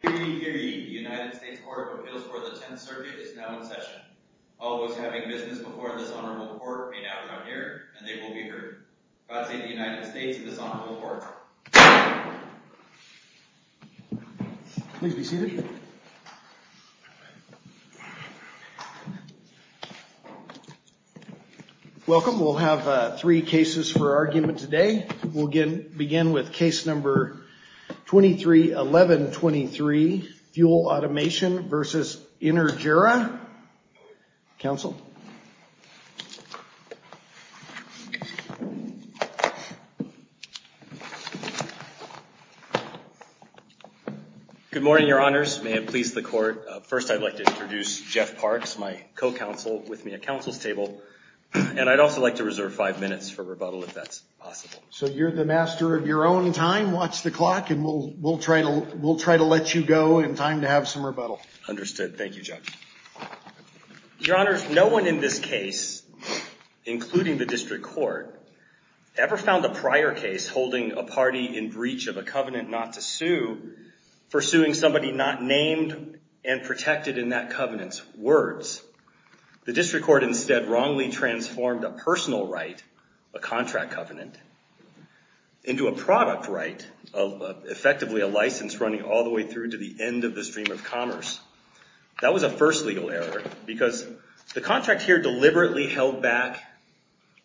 The United States Court of Appeals for the 10th Circuit is now in session. All those having business before this honorable court may now come here and they will be heard. Proceed to the United States of this honorable court. Please be seated. Welcome. We'll have three cases for argument today. We'll begin with case number 231123, Fuel Automation v. Energera. Counsel. Good morning, your honors. May it please the court. First, I'd like to introduce Jeff Parks, my co-counsel with me at counsel's table. And I'd also like to reserve five minutes for rebuttal if that's possible. So you're the master of your own time. Watch the clock and we'll try to let you go in time to have some rebuttal. Understood. Thank you, Jeff. Your honors, no one in this case, including the district court, ever found a prior case holding a party in breach of a covenant not to sue, the district court instead wrongly transformed a personal right, a contract covenant, into a product right of effectively a license running all the way through to the end of the stream of commerce. That was a first legal error because the contract here deliberately held back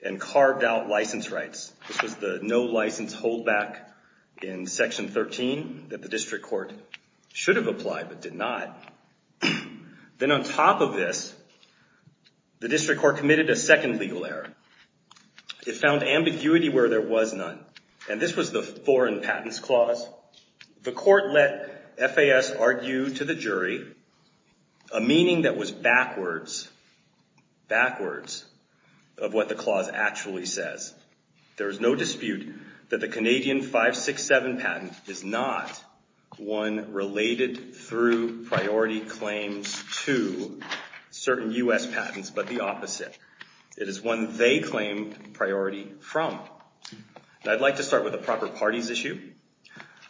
and carved out license rights. This was the no license hold back in section 13 that the district court should have applied but did not. Then on top of this, the district court committed a second legal error. It found ambiguity where there was none. And this was the foreign patents clause. The court let FAS argue to the jury a meaning that was backwards, backwards of what the clause actually says. There is no dispute that the Canadian 567 patent is not one related through priority. It is not one that priority claims to certain U.S. patents, but the opposite. It is one they claim priority from. I'd like to start with the proper parties issue.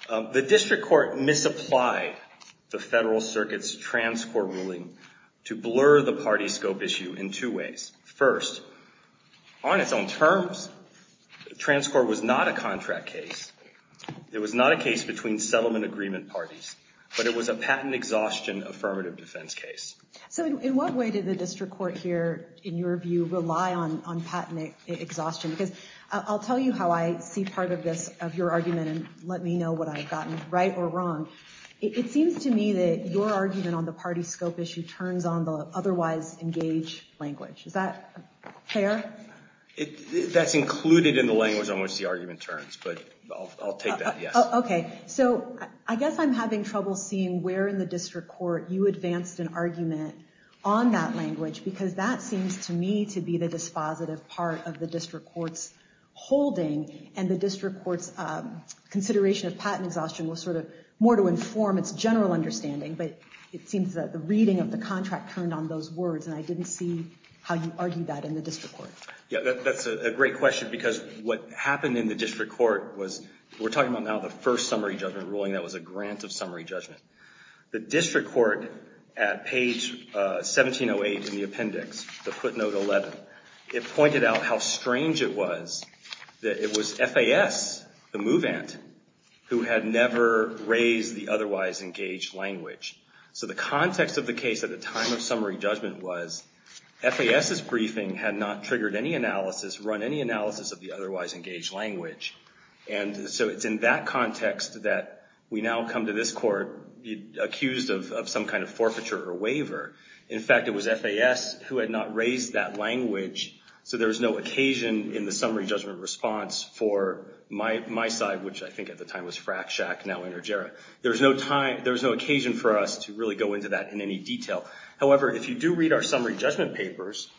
The district court misapplied the federal circuit's transcourt ruling to blur the party scope issue in two ways. First, on its own terms, transcourt was not a contract case. It was not a case between settlement agreement parties, but it was a patent exhaustion affirmative defense case. So in what way did the district court here, in your view, rely on patent exhaustion? Because I'll tell you how I see part of this, of your argument, and let me know what I've gotten right or wrong. It seems to me that your argument on the party scope issue turns on the otherwise engaged language. Is that fair? That's included in the language on which the argument turns, but I'll take that, yes. So I guess I'm having trouble seeing where in the district court you advanced an argument on that language, because that seems to me to be the dispositive part of the district court's holding, and the district court's consideration of patent exhaustion was sort of more to inform its general understanding, but it seems that the reading of the contract turned on those words, and I didn't see how you argued that in the district court. Yeah, that's a great question, because what happened in the district court was, we're talking about now the first summary judgment ruling, that was a grant of summary judgment. The district court, at page 1708 in the appendix, the footnote 11, it pointed out how strange it was that it was FAS, the move ant, who had never raised the otherwise engaged language. So the context of the case at the time of summary judgment was, FAS's briefing had not triggered any analysis, run any analysis of the otherwise engaged language, and so it's in that context that we now come to this court accused of some kind of forfeiture or waiver. In fact, it was FAS who had not raised that language, so there was no occasion in the summary judgment response for my side, which I think at the time was Frack Shack, now Energera. There was no occasion for us to really go into that in any detail. However, if you do read our summary judgment papers,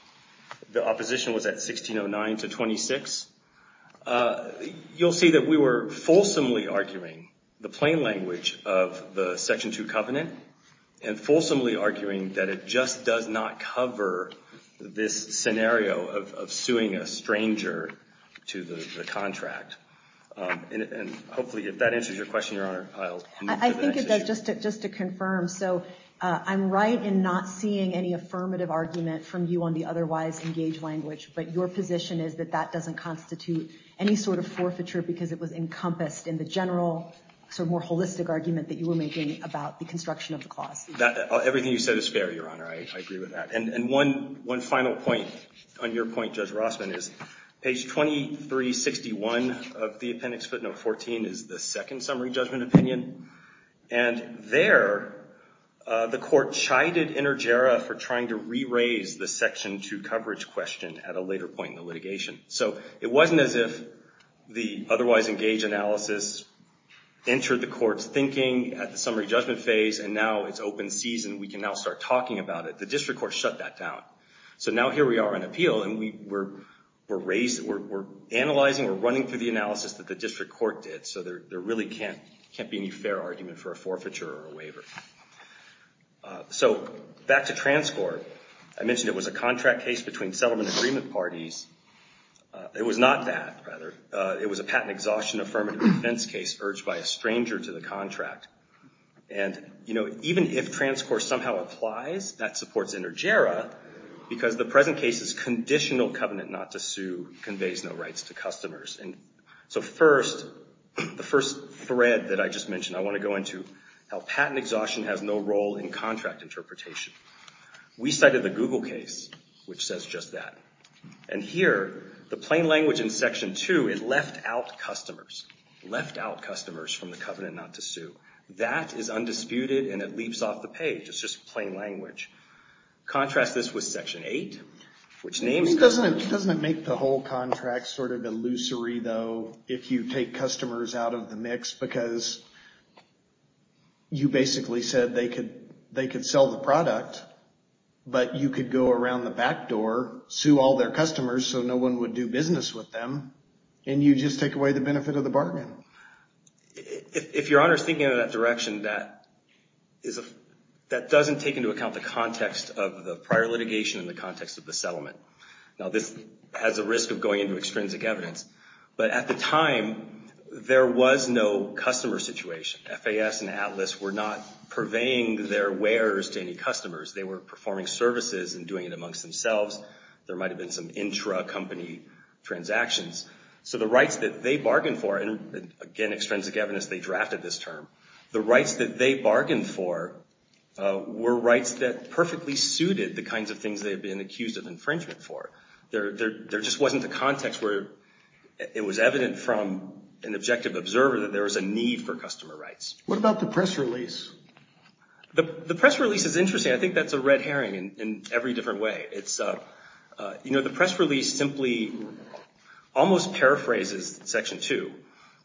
the opposition was at 1609 to 26. You'll see that we were fulsomely arguing the plain language of the Section 2 covenant, and fulsomely arguing that it just does not cover this scenario of suing a stranger to the contract. And hopefully, if that answers your question, Your Honor, I'll move to the next issue. I think it does, just to confirm. So I'm right in not seeing any affirmative argument from you on the otherwise engaged language, but your position is that that doesn't constitute any sort of forfeiture because it was encompassed in the general, more holistic argument that you were making about the construction of the clause. Everything you said is fair, Your Honor. I agree with that. And one final point on your point, Judge Rossman, is page 2361 of the appendix footnote 14 is the second summary judgment opinion. And there, the court chided Energera for trying to re-raise the Section 2 coverage question at a later point in the litigation. So it wasn't as if the otherwise engaged analysis entered the court's thinking at the summary judgment phase, and now it's open season. We can now start talking about it. The district court shut that down. So now here we are on appeal, and we're analyzing, we're running through the analysis that the district court did. So there really can't be any fair argument for a forfeiture or a waiver. So back to TransCorp, I mentioned it was a contract case between settlement agreement parties. It was not that, rather. It was a patent exhaustion affirmative defense case urged by a stranger to the contract. And even if TransCorp somehow applies, that supports Energera, because the present case's conditional covenant not to sue conveys no rights to customers. And so first, the first thread that I just mentioned, I want to go into how patent exhaustion has no role in contract interpretation. We cited the Google case, which says just that. And here, the plain language in section two, it left out customers. Left out customers from the covenant not to sue. That is undisputed, and it leaps off the page. It's just plain language. Contrast this with section eight, which names customers. Doesn't it make the whole contract sort of illusory, though, if you take customers out of the mix? Because you basically said they could sell the product, but you could go around the back door, sue all their customers so no one would do business with them, and you just take away the benefit of the bargain. If Your Honor's thinking in that direction, that doesn't take into account the context of the prior litigation and the context of the settlement. Now, this has a risk of going into extrinsic evidence. But at the time, there was no customer situation. FAS and Atlas were not purveying their wares to any customers. They were performing services and doing it amongst themselves. There might have been some intra-company transactions. So the rights that they bargained for, and again, extrinsic evidence, they drafted this term. The rights that they bargained for were rights that perfectly suited the kinds of things they had been accused of infringement for. There just wasn't a context where it was evident from an objective observer that there was a need for customer rights. What about the press release? The press release is interesting. I think that's a red herring in every different way. The press release simply almost paraphrases Section 2,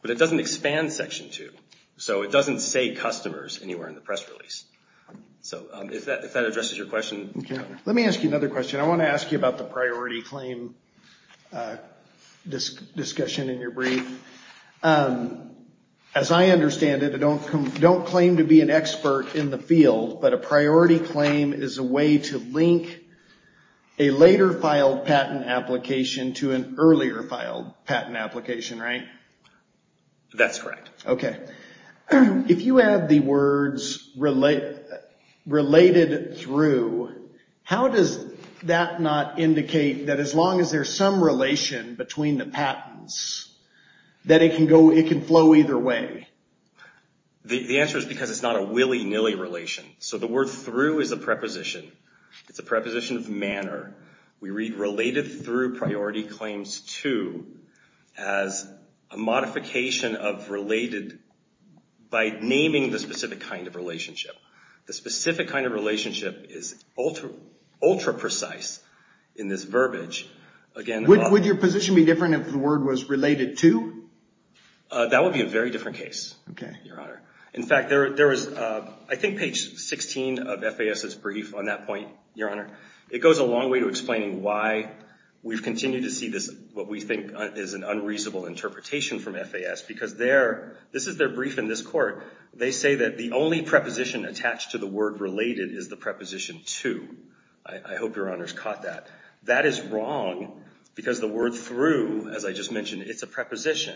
but it doesn't expand Section 2. So it doesn't say customers anywhere in the press release. So if that addresses your question. Let me ask you another question. I want to ask you about the priority claim discussion in your brief. As I understand it, I don't claim to be an expert in the field, but a priority claim is a way to link a later filed patent application to an earlier filed patent application, right? That's correct. OK. If you have the words related through, how does that not indicate that as long as there's some relation between the patents, that it can flow either way? The answer is because it's not a willy nilly relation. So the word through is a preposition. It's a preposition of manner. We read related through priority claims to as a modification of related by naming the specific kind of relationship. The specific kind of relationship is ultra-precise in this verbiage. Would your position be different if the word was related to? That would be a very different case, Your Honor. In fact, I think page 16 of FAS's brief on that point, Your Honor, it goes a long way to explaining why we've continued to see what we think is an unreasonable interpretation from FAS. Because this is their brief in this court. They say that the only preposition attached to the word related is the preposition to. I hope Your Honor's caught that. That is wrong. Because the word through, as I just mentioned, it's a preposition.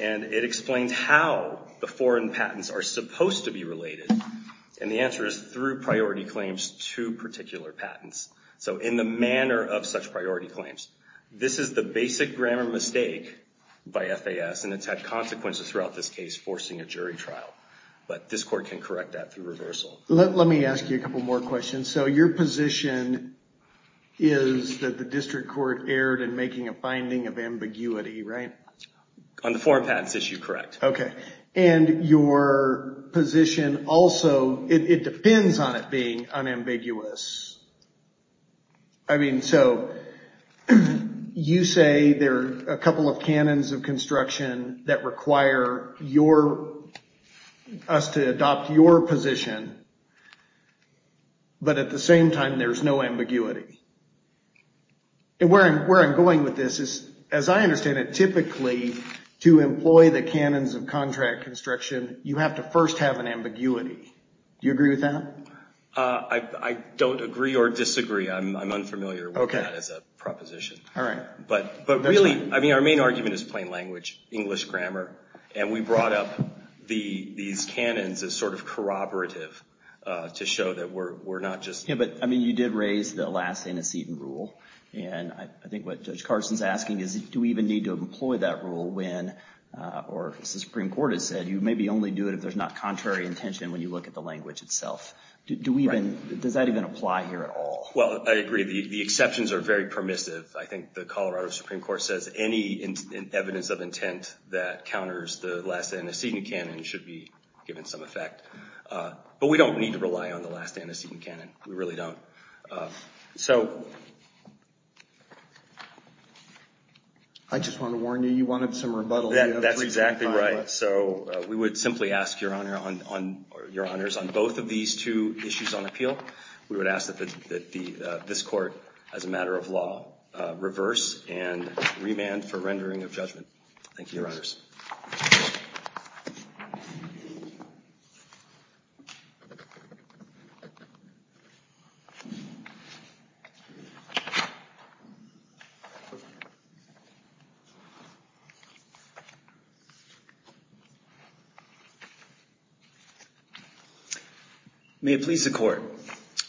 And it explains how the foreign patents are supposed to be related. And the answer is through priority claims to particular patents. So in the manner of such priority claims. This is the basic grammar mistake by FAS. And it's had consequences throughout this case, forcing a jury trial. But this court can correct that through reversal. Let me ask you a couple more questions. So your position is that the district court erred in making a finding of ambiguity, right? On the foreign patents issue, correct. And your position also, it depends on it being unambiguous. I mean, so you say there are a couple of canons of construction that require us to adopt your position. But at the same time, there's no ambiguity. And where I'm going with this is, as I understand it, typically, to employ the canons of contract construction, you have to first have an ambiguity. Do you agree with that? I don't agree or disagree. I'm unfamiliar with that as a proposition. But really, I mean, our main argument is plain language, English grammar. And we brought up these canons as sort of corroborative to show that we're not just. Yeah, but I mean, you did raise the last antecedent rule. And I think what Judge Carson's asking is, do we even need to employ that rule when, or as the Supreme Court has said, you maybe only do it if there's not contrary intention when you look at the language itself. Does that even apply here at all? Well, I agree. The exceptions are very permissive. I think the Colorado Supreme Court says any evidence of intent that counters the last antecedent canon should be given some effect. But we don't need to rely on the last antecedent canon. We really don't. So I just want to warn you, you wanted some rebuttal. That's exactly right. So we would simply ask your honors on both of these two issues on appeal. We would ask that this court, as a matter of law, reverse and remand for rendering of judgment. Thank you. May it please the court.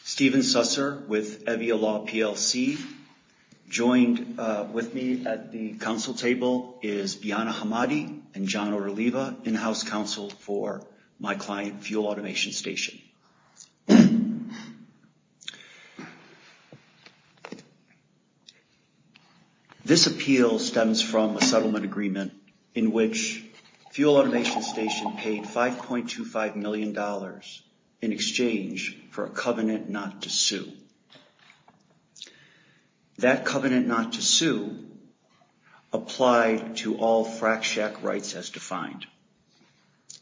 Stephen Susser with Evia Law, PLC. Joined with me at the council table is Biana Hamadi and John Orliva, in-house counsel for my client, Fuel Automation Station. This appeal stems from a settlement agreement in which Fuel Automation Station paid $5.25 million in exchange for a covenant not to sue. That covenant not to sue applied to all frack shack rights as defined.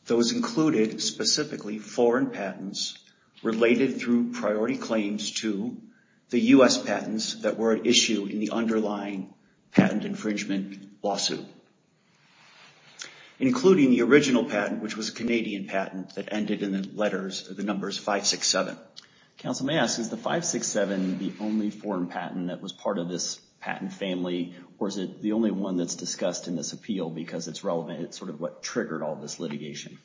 Those included specifically foreign patents related through priority claims to the US patents that were at issue in the underlying patent infringement lawsuit, including the original patent, which was a Canadian patent that ended in the letters of the numbers 567. Counsel, may I ask, is the 567 the only foreign patent that was part of this patent family, or is it the only one that's discussed in this appeal because it's relevant? It's sort of what triggered all this litigation.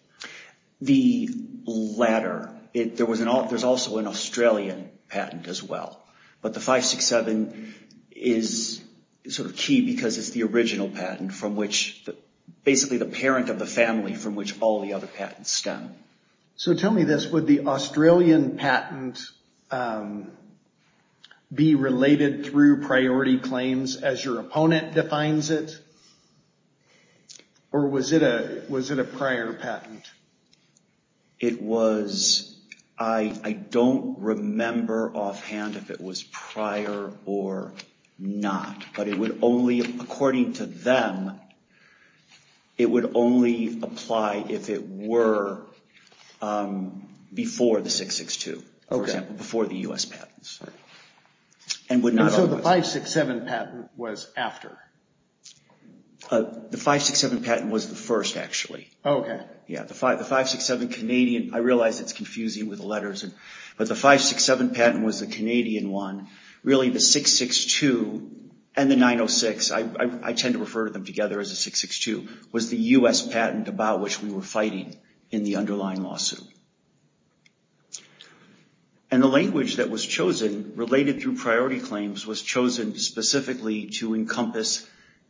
The latter. There's also an Australian patent as well. But the 567 is sort of key because it's the original patent from which basically the parent of the family from which all the other patents stem. So tell me this, would the Australian patent be related through priority claims as your opponent defines it, or was it a prior patent? It was, I don't remember offhand if it was prior or not. But it would only, according to them, it would only apply if it were before the 662, before the US patents. And so the 567 patent was after? The 567 patent was the first, actually. Yeah, the 567 Canadian, I realize it's confusing with the letters, but the 567 patent was the Canadian one. Really, the 662 and the 906, I tend to refer to them together as a 662, was the US patent about which we were fighting in the underlying lawsuit. And the language that was chosen, related through priority claims, was chosen specifically to encompass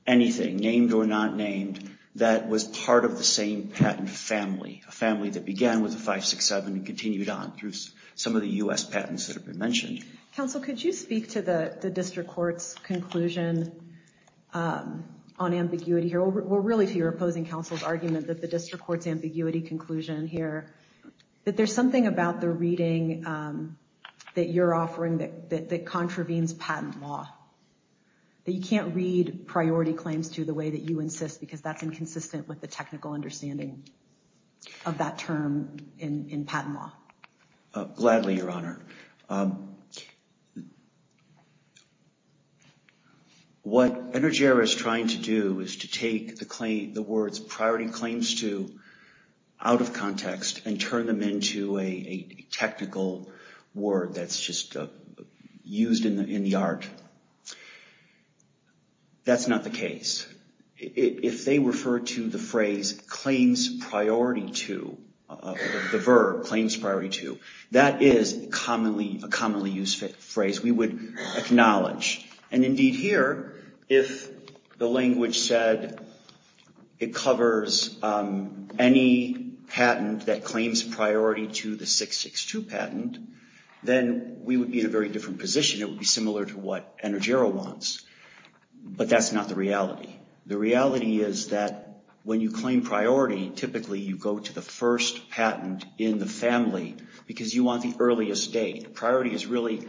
anything, named or not named, that was part of the same patent family, a family that began with the 567 and continued on through some of the US patents that have been mentioned. Counsel, could you speak to the district court's conclusion on ambiguity here, or really to your opposing counsel's argument that the district court's ambiguity conclusion here, that there's something about the reading that you're offering that contravenes patent law, that you can't read priority claims to the way that you insist because that's inconsistent with the technical understanding of that term in patent law? Gladly, Your Honor. What Energera is trying to do is to take the words, priority claims to, out of context and turn them into a technical word that's just used in the art. That's not the case. If they refer to the phrase, claims priority to, the verb, claims priority to, that is a commonly used phrase we would acknowledge. And indeed here, if the language said it covers any patent that claims priority to the 662 patent, then we would be in a very different position. It would be similar to what Energera wants. But that's not the reality. The reality is that when you claim priority, typically you go to the first patent in the family because you want the earliest date. Priority is really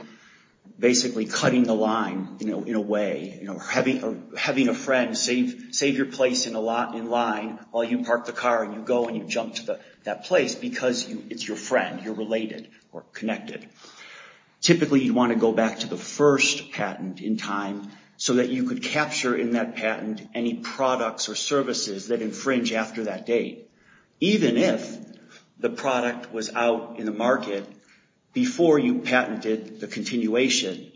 basically cutting the line in a way. Having a friend save your place in line while you park the car and you go and you jump to that place because it's your friend. You're related or connected. Typically, you'd want to go back to the first patent in time so that you could capture in that patent any products or services that infringe after that date, even if the product was out in the market before you patented the continuation.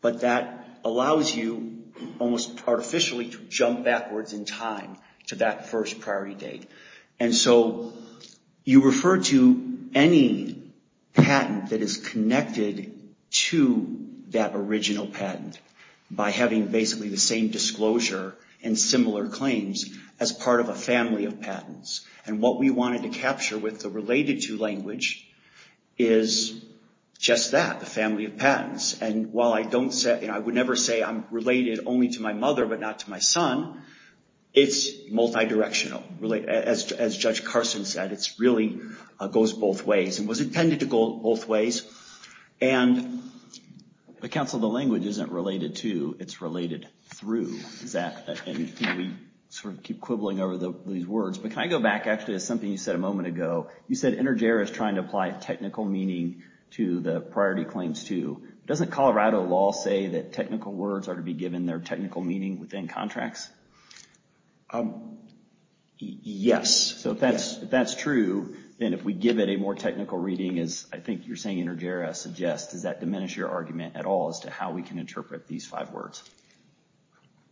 But that allows you almost artificially to jump backwards in time to that first priority date. And so you refer to any patent that is connected to that original patent by having basically the same disclosure and similar claims as part of a family of patents. And what we wanted to capture with the related to language is just that, the family of patents. And while I would never say I'm related only to my mother but not to my son, it's multidirectional. As Judge Carson said, it really goes both ways and was intended to go both ways. And the counsel of the language isn't related to, it's related through. We sort of keep quibbling over these words. But can I go back actually to something you said a moment ago? You said Intergera is trying to apply technical meaning to the priority claims too. Doesn't Colorado law say that technical words are to be given their technical meaning within contracts? Yes. So if that's true, then if we give it a more technical reading, as I think you're saying Intergera suggests, does that diminish your argument at all as to how we can interpret these five words?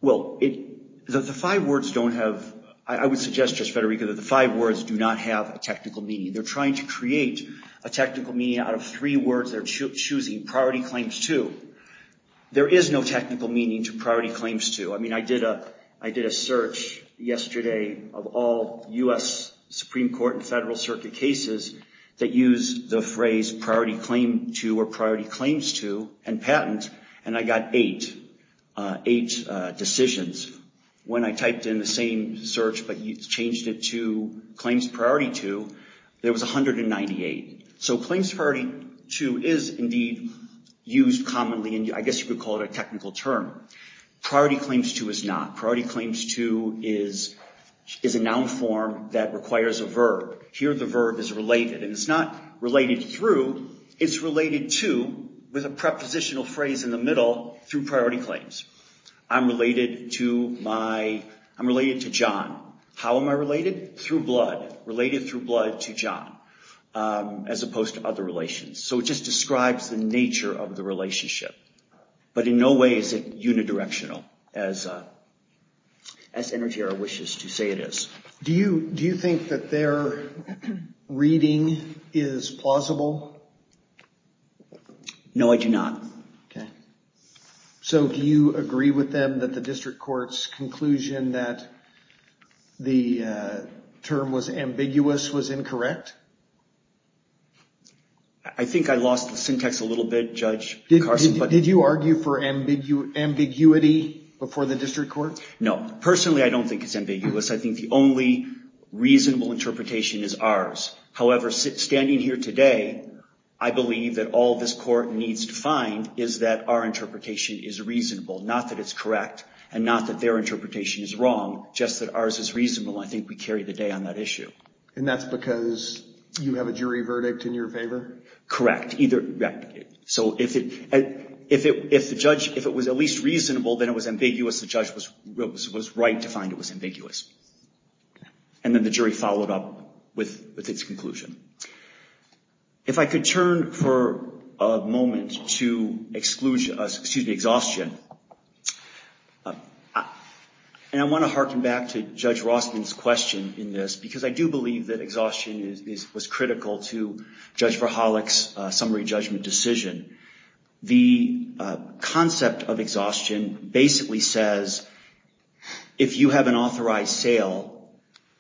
Well, the five words don't have, I would suggest, Judge Federico, that the five words do not have a technical meaning. They're trying to create a technical meaning out of three words they're choosing priority claims to. There is no technical meaning to priority claims to. I mean, I did a search yesterday of all US Supreme Court and Federal Circuit cases that use the phrase priority claim to or priority claims to and patent, and I got eight decisions. When I typed in the same search but changed it to claims priority to, there was 198. So claims priority to is indeed used commonly in, I guess you could call it a technical term. Priority claims to is not. Here the verb is related, and it's not related through. It's related to with a prepositional phrase in the middle through priority claims. I'm related to my, I'm related to John. How am I related? Through blood. Related through blood to John, as opposed to other relations. So it just describes the nature of the relationship. But in no way is it unidirectional, as Intergera wishes to say it is. Do you think that their reading is plausible? No, I do not. So do you agree with them that the district court's conclusion that the term was ambiguous was incorrect? I think I lost the syntax a little bit, Judge Carson. Did you argue for ambiguity before the district court? No, personally I don't think it's ambiguous. I think the only reasonable interpretation is ours. However, standing here today, I believe that all this court needs to find is that our interpretation is reasonable, not that it's correct, and not that their interpretation is wrong, just that ours is reasonable. I think we carry the day on that issue. And that's because you have a jury verdict in your favor? Correct. So if the judge, if it was at least reasonable, then it was ambiguous. The judge was right to find it was ambiguous. And then the jury followed up with its conclusion. If I could turn for a moment to exhaustion, and I want to harken back to Judge Rostin's question in this, because I do believe that exhaustion was critical to Judge Verhollich's summary judgment decision. The concept of exhaustion basically says if you have an authorized sale,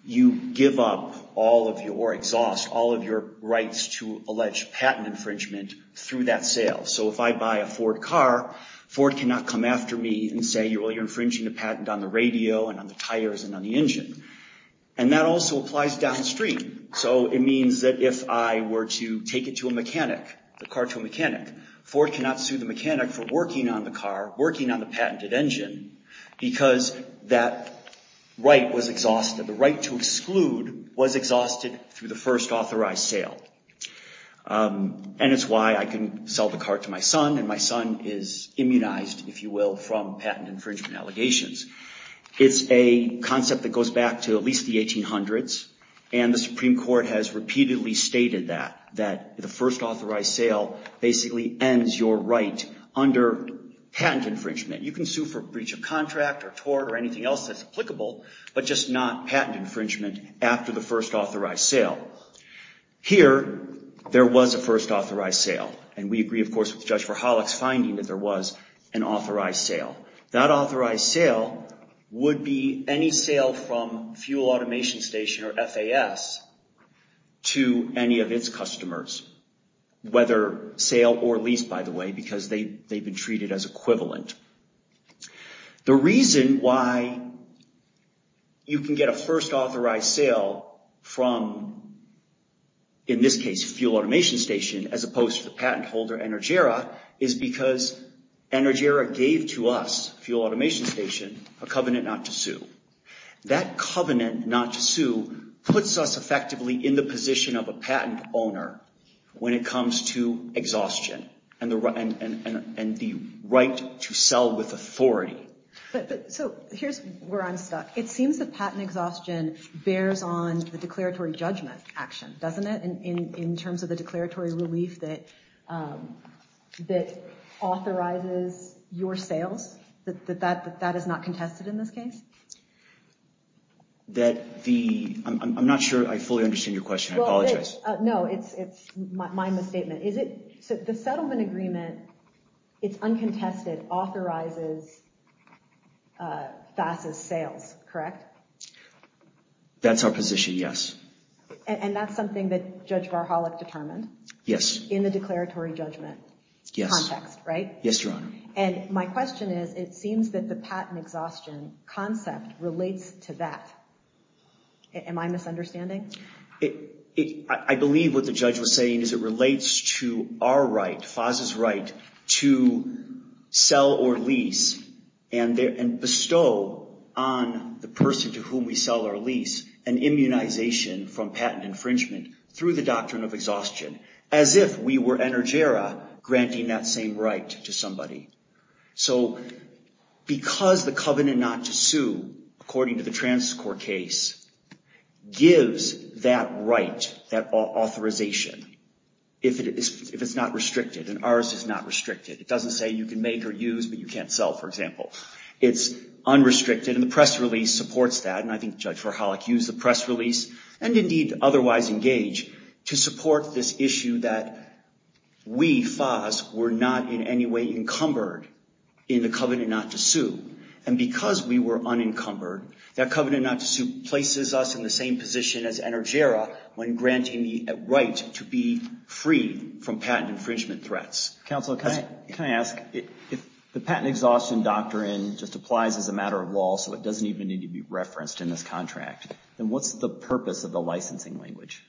you give up all of your, or exhaust, all of your rights to allege patent infringement through that sale. So if I buy a Ford car, Ford cannot come after me and say, well, you're infringing a patent on the radio, and on the tires, and on the engine. And that also applies downstream. So it means that if I were to take it to a mechanic, the car to a mechanic, Ford cannot sue the mechanic for working on the car, working on the patented engine, because that right was exhausted. The right to exclude was exhausted through the first authorized sale. And it's why I can sell the car to my son, and my son is immunized, if you will, from patent infringement allegations. It's a concept that goes back to at least the 1800s. And the Supreme Court has repeatedly stated that, that the first authorized sale basically ends your right under patent infringement. You can sue for breach of contract, or tort, or anything else that's applicable, but just not patent infringement after the first authorized sale. Here, there was a first authorized sale. And we agree, of course, with Judge Verhollich's finding that there was an authorized sale. That authorized sale would be any sale from Fuel Automation Station, or FAS, to any of its customers, whether sale or lease, by the way, because they've been treated as equivalent. The reason why you can get a first authorized sale from, in this case, Fuel Automation Station, as opposed to the patent holder, Energera, is because Energera gave to us, Fuel Automation Station, a covenant not to sue. That covenant not to sue puts us effectively in the position of a patent owner when it comes to exhaustion and the right to sell with authority. So here's where I'm stuck. It seems that patent exhaustion bears on the declaratory judgment action, doesn't it, in terms of the declaratory relief that authorizes your sales, that that is not contested in this case? That the, I'm not sure I fully understand your question. I apologize. No, it's my misstatement. Is it, so the settlement agreement, it's uncontested, authorizes FAS's sales, correct? That's our position, yes. And that's something that Judge Verhollich determined? Yes. In the declaratory judgment context, right? Yes, Your Honor. And my question is, it seems that the patent exhaustion concept relates to that. Am I misunderstanding? I believe what the judge was saying is it relates to our right, FAS's right, to sell or lease and bestow on the person to whom we sell or lease an immunization from patent infringement through the doctrine of exhaustion, as if we were Energera granting that same right to somebody. So because the covenant not to sue, according to the trans court case, gives that right, that authorization, if it's not restricted. And ours is not restricted. It doesn't say you can make or use, but you can't sell, for example. It's unrestricted. And the press release supports that. And I think Judge Verhollich used the press release and indeed otherwise engage to support this issue that we, FAS, were not in any way encumbered in the covenant not to sue. And because we were unencumbered, that covenant not to sue places us in the same position as Energera when granting the right to be free from patent infringement threats. Counsel, can I ask, if the patent exhaustion doctrine just applies as a matter of law, so it doesn't even need to be referenced in this contract, then what's the purpose of the licensing language?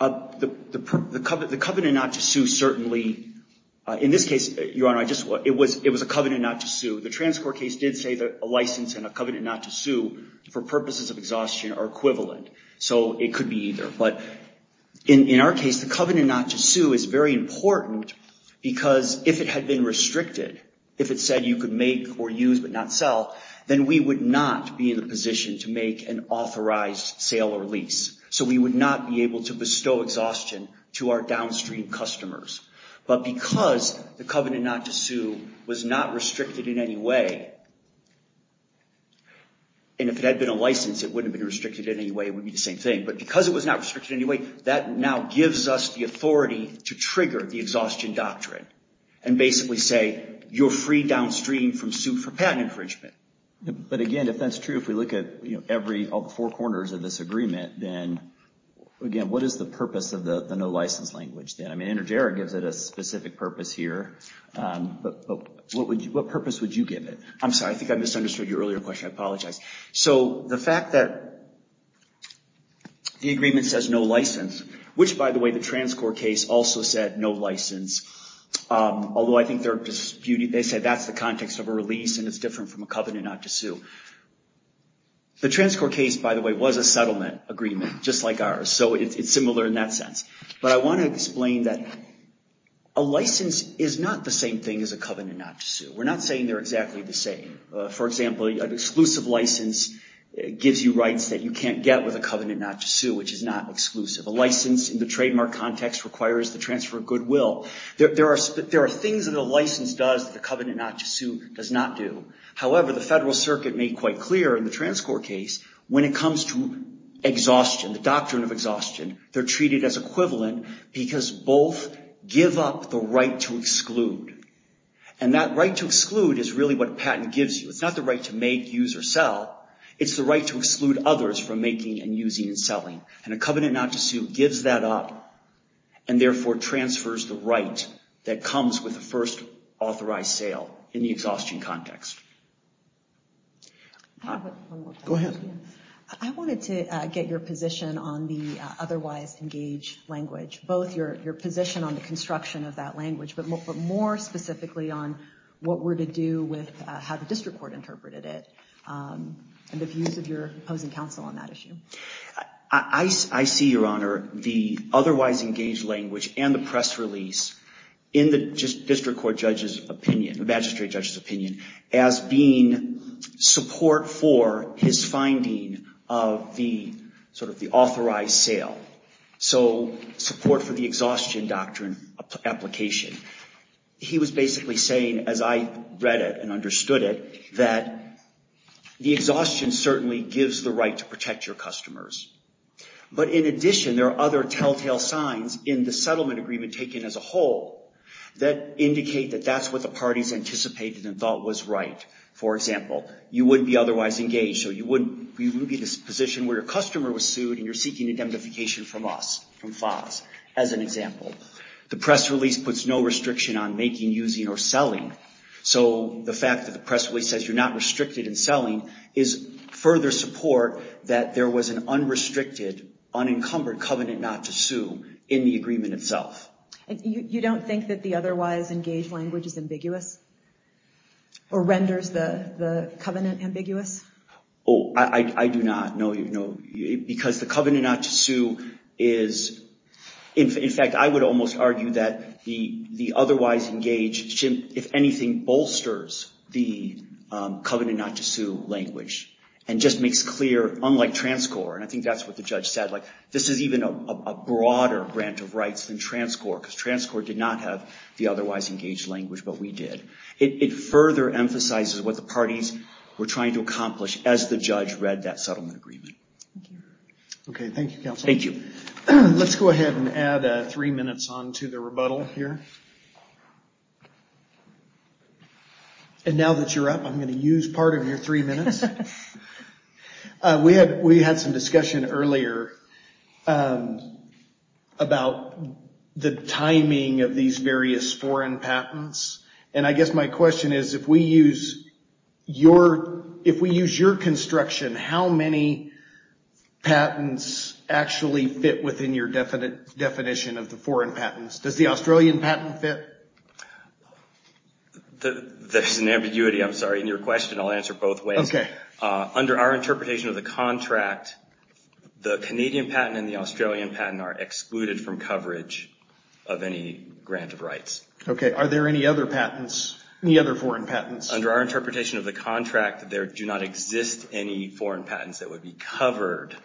The covenant not to sue certainly, in this case, Your Honor, it was a covenant not to sue. The trans court case did say that a license and a covenant not to sue for purposes of exhaustion are equivalent. So it could be either. But in our case, the covenant not to sue is very important because if it had been restricted, if it said you could make or use but not sell, then we would not be in a position to make an authorized sale or lease. So we would not be able to bestow exhaustion to our downstream customers. But because the covenant not to sue was not restricted in any way, and if it had been a license, it wouldn't have been restricted in any way. It would be the same thing. But because it was not restricted in any way, that now gives us the authority to trigger the exhaustion doctrine and basically say, you're free downstream from suit for patent infringement. But again, if that's true, if we look at every, all the four corners of this agreement, then again, what is the purpose of the no license language? I mean, Intergerra gives it a specific purpose here. But what purpose would you give it? I'm sorry, I think I misunderstood your earlier question. I apologize. So the fact that the agreement says no license, which by the way, the trans court case also said no license, although I think they're disputing, they said that's the context of a release and it's different from a covenant not to sue. The trans court case, by the way, was a settlement agreement, just like ours. So it's similar in that sense. But I want to explain that a license is not the same thing as a covenant not to sue. We're not saying they're exactly the same. For example, an exclusive license gives you rights that you can't get with a covenant not to sue, which is not exclusive. A license in the trademark context requires the transfer of goodwill. There are things that a license does that the covenant not to sue does not do. However, the federal circuit made quite clear in the trans court case, when it comes to exhaustion, the doctrine of exhaustion, they're treated as equivalent because both give up the right to exclude. And that right to exclude is really what a patent gives you. It's not the right to make, use, or sell. It's the right to exclude others from making, and using, and selling. And a covenant not to sue gives that up, and therefore transfers the right that comes with the first authorized sale in the exhaustion context. I have one more question. Go ahead. I wanted to get your position on the otherwise engaged language, both your position on the construction of that language, but more specifically on what we're to do with how the district court interpreted it, and the views of your opposing counsel on that issue. I see, Your Honor, the otherwise engaged language and the press release in the district court judge's opinion, the magistrate judge's opinion, as being support for his finding of the authorized sale. So support for the exhaustion doctrine application. He was basically saying, as I read it and understood it, that the exhaustion certainly gives the right to protect your customers. But in addition, there are other telltale signs in the settlement agreement taken as a whole that indicate that that's what the parties anticipated and thought was right. For example, you wouldn't be otherwise engaged. So you wouldn't be in this position where your customer was sued, and you're seeking indemnification from us, from FAS, as an example. The press release puts no restriction on making, using, or selling. So the fact that the press release says you're not restricted in selling is further support that there was an unrestricted, unencumbered covenant not to sue in the agreement itself. And you don't think that the otherwise engaged language is ambiguous, or renders the covenant ambiguous? Oh, I do not, no. Because the covenant not to sue is, in fact, I would almost argue that the otherwise engaged, if anything, bolsters the covenant not to sue language, and just makes clear, unlike TransCore, and I think that's what the judge said, this is even a broader grant of rights than TransCore, because TransCore did not have the otherwise engaged language, but we did. It further emphasizes what the parties were trying to accomplish as the judge read that settlement agreement. OK, thank you, counsel. Thank you. Let's go ahead and add three minutes on to the rebuttal here. And now that you're up, I'm going to use part of your three minutes. We had some discussion earlier about the timing of these various foreign patents. And I guess my question is, if we use your construction, how many patents actually fit within your definition of the foreign patents? Does the Australian patent fit? There's an ambiguity, I'm sorry, in your question. I'll answer both ways. Under our interpretation of the contract, the Canadian patent and the Australian patent are excluded from coverage of any grant of rights. OK, are there any other patents, any other foreign patents? Under our interpretation of the contract, there do not exist any foreign patents that would be covered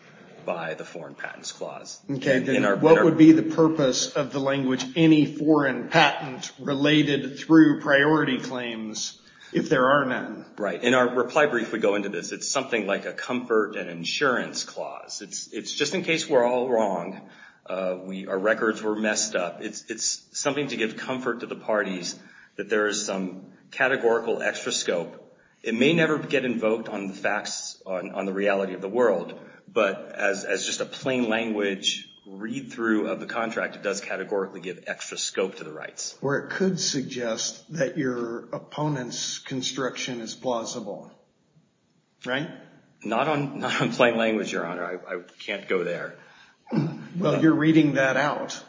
by the foreign patents clause. OK, then what would be the purpose of the language any foreign patent related through priority claims if there are none? Right, in our reply brief, we go into this. It's something like a comfort and insurance clause. It's just in case we're all wrong, our records were messed up. It's something to give comfort to the parties that there is some categorical extra scope. It may never get invoked on the facts on the reality of the world. But as just a plain language read through of the contract, it does categorically give extra scope to the rights. Or it could suggest that your opponent's construction is plausible, right? Not on plain language, Your Honor. I can't go there. Well, you're reading that out.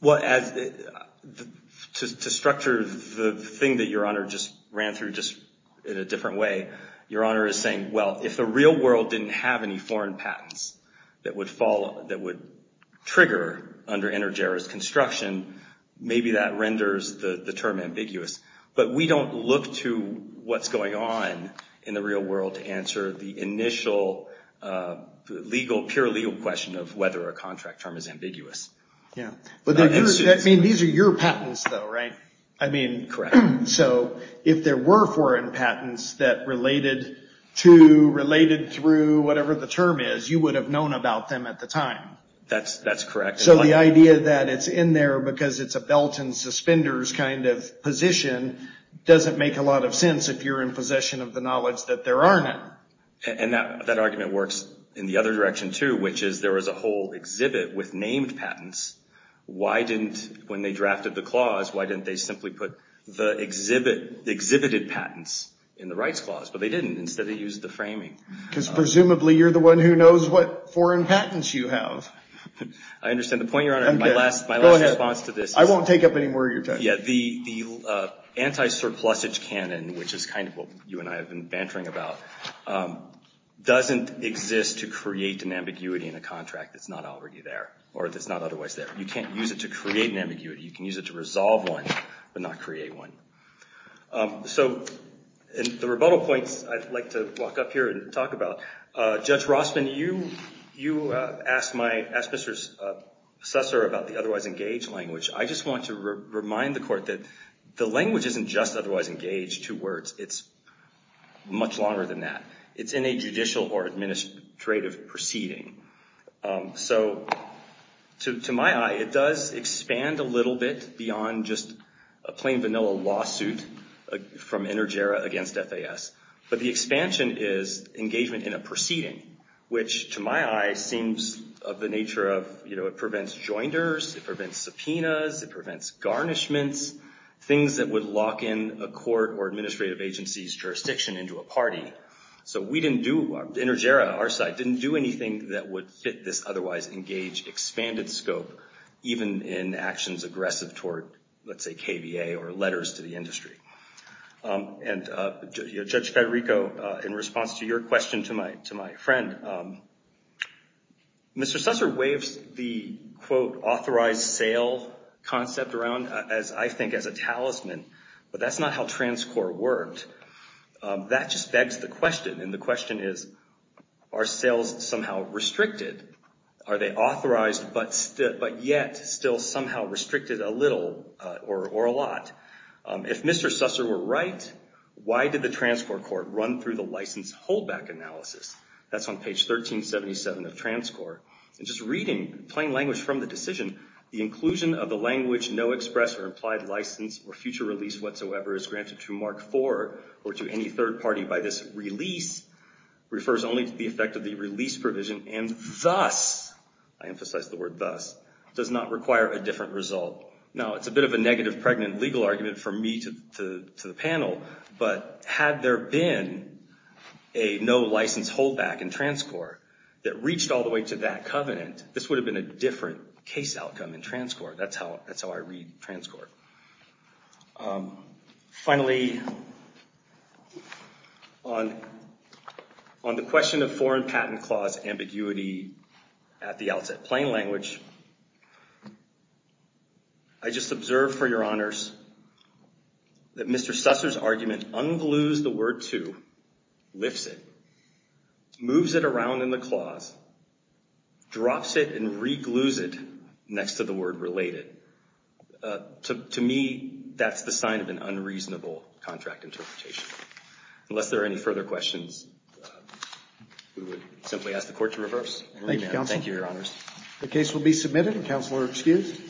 Well, to structure the thing that Your Honor just ran through just in a different way, Your Honor is saying, well, if the real world didn't have any foreign patents that would trigger under Energera's construction, maybe that renders the term ambiguous. But we don't look to what's going on in the real world to answer the initial legal, pure legal question of whether a contract term is ambiguous. Yeah, but these are your patents though, right? I mean, so if there were foreign patents that related to, related through, whatever the term is, you would have known about them at the time. That's correct. So the idea that it's in there because it's a belt and suspenders kind of position doesn't make a lot of sense if you're in possession of the knowledge that there aren't. And that argument works in the other direction too, which is there was a whole exhibit with named patents. Why didn't, when they drafted the clause, why didn't they simply put the exhibited patents in the rights clause? But they didn't. Instead, they used the framing. Because presumably, you're the one who knows what foreign patents you have. I understand. The point, Your Honor, my last response to this is. I won't take up anymore of your time. Yeah, the anti-surplusage canon, which is kind of what you and I have been bantering about, doesn't exist to create an ambiguity in a contract that's not already there or that's not otherwise there. You can't use it to create an ambiguity. You can use it to resolve one, but not create one. So the rebuttal points I'd like to walk up here and talk about. Judge Rossman, you asked Mr. Susser about the otherwise engaged language. I just want to remind the court that the language isn't just otherwise engaged, two words. It's much longer than that. It's in a judicial or administrative proceeding. So to my eye, it does expand a little bit beyond just a plain vanilla lawsuit from Intergera against FAS. But the expansion is engagement in a proceeding, which to my eye seems of the nature of it prevents joinders, it prevents subpoenas, it prevents garnishments, things that would lock in a court or administrative agency's jurisdiction into a party. So we didn't do, Intergera, our side, didn't do anything that would fit this otherwise engaged, expanded scope, even in actions aggressive toward, let's say, KVA or letters to the industry. And Judge Federico, in response to your question to my friend, Mr. Susser waves the, quote, authorized sale concept around as, I think, as a talisman. But that's not how trans-court worked. That just begs the question. And the question is, are sales somehow restricted? Are they authorized but yet still somehow restricted a little or a lot? If Mr. Susser were right, why did the trans-court court run through the license holdback analysis? That's on page 1377 of trans-court. And just reading plain language from the decision, the inclusion of the language no express or implied license or future release whatsoever is granted to Mark IV or to any third party by this release refers only to the effect of the release provision. And thus, I emphasize the word thus, does not require a different result. Now, it's a bit of a negative pregnant legal argument for me to the panel. But had there been a no license holdback in trans-court that reached all the way to that covenant, this would have been a different case outcome in trans-court. That's how I read trans-court. Finally, on the question of foreign patent clause ambiguity at the outset, plain language, I just observe for your honors that Mr. Susser's argument unglues the word to, lifts it, moves it around in the clause, drops it, and reglues it next to the word related. To me, that's the sign of an unreasonable contract interpretation. Unless there are any further questions, we would simply ask the court to reverse and remand. Thank you, counsel. Thank you, your honors. The case will be submitted. Counselor, excused.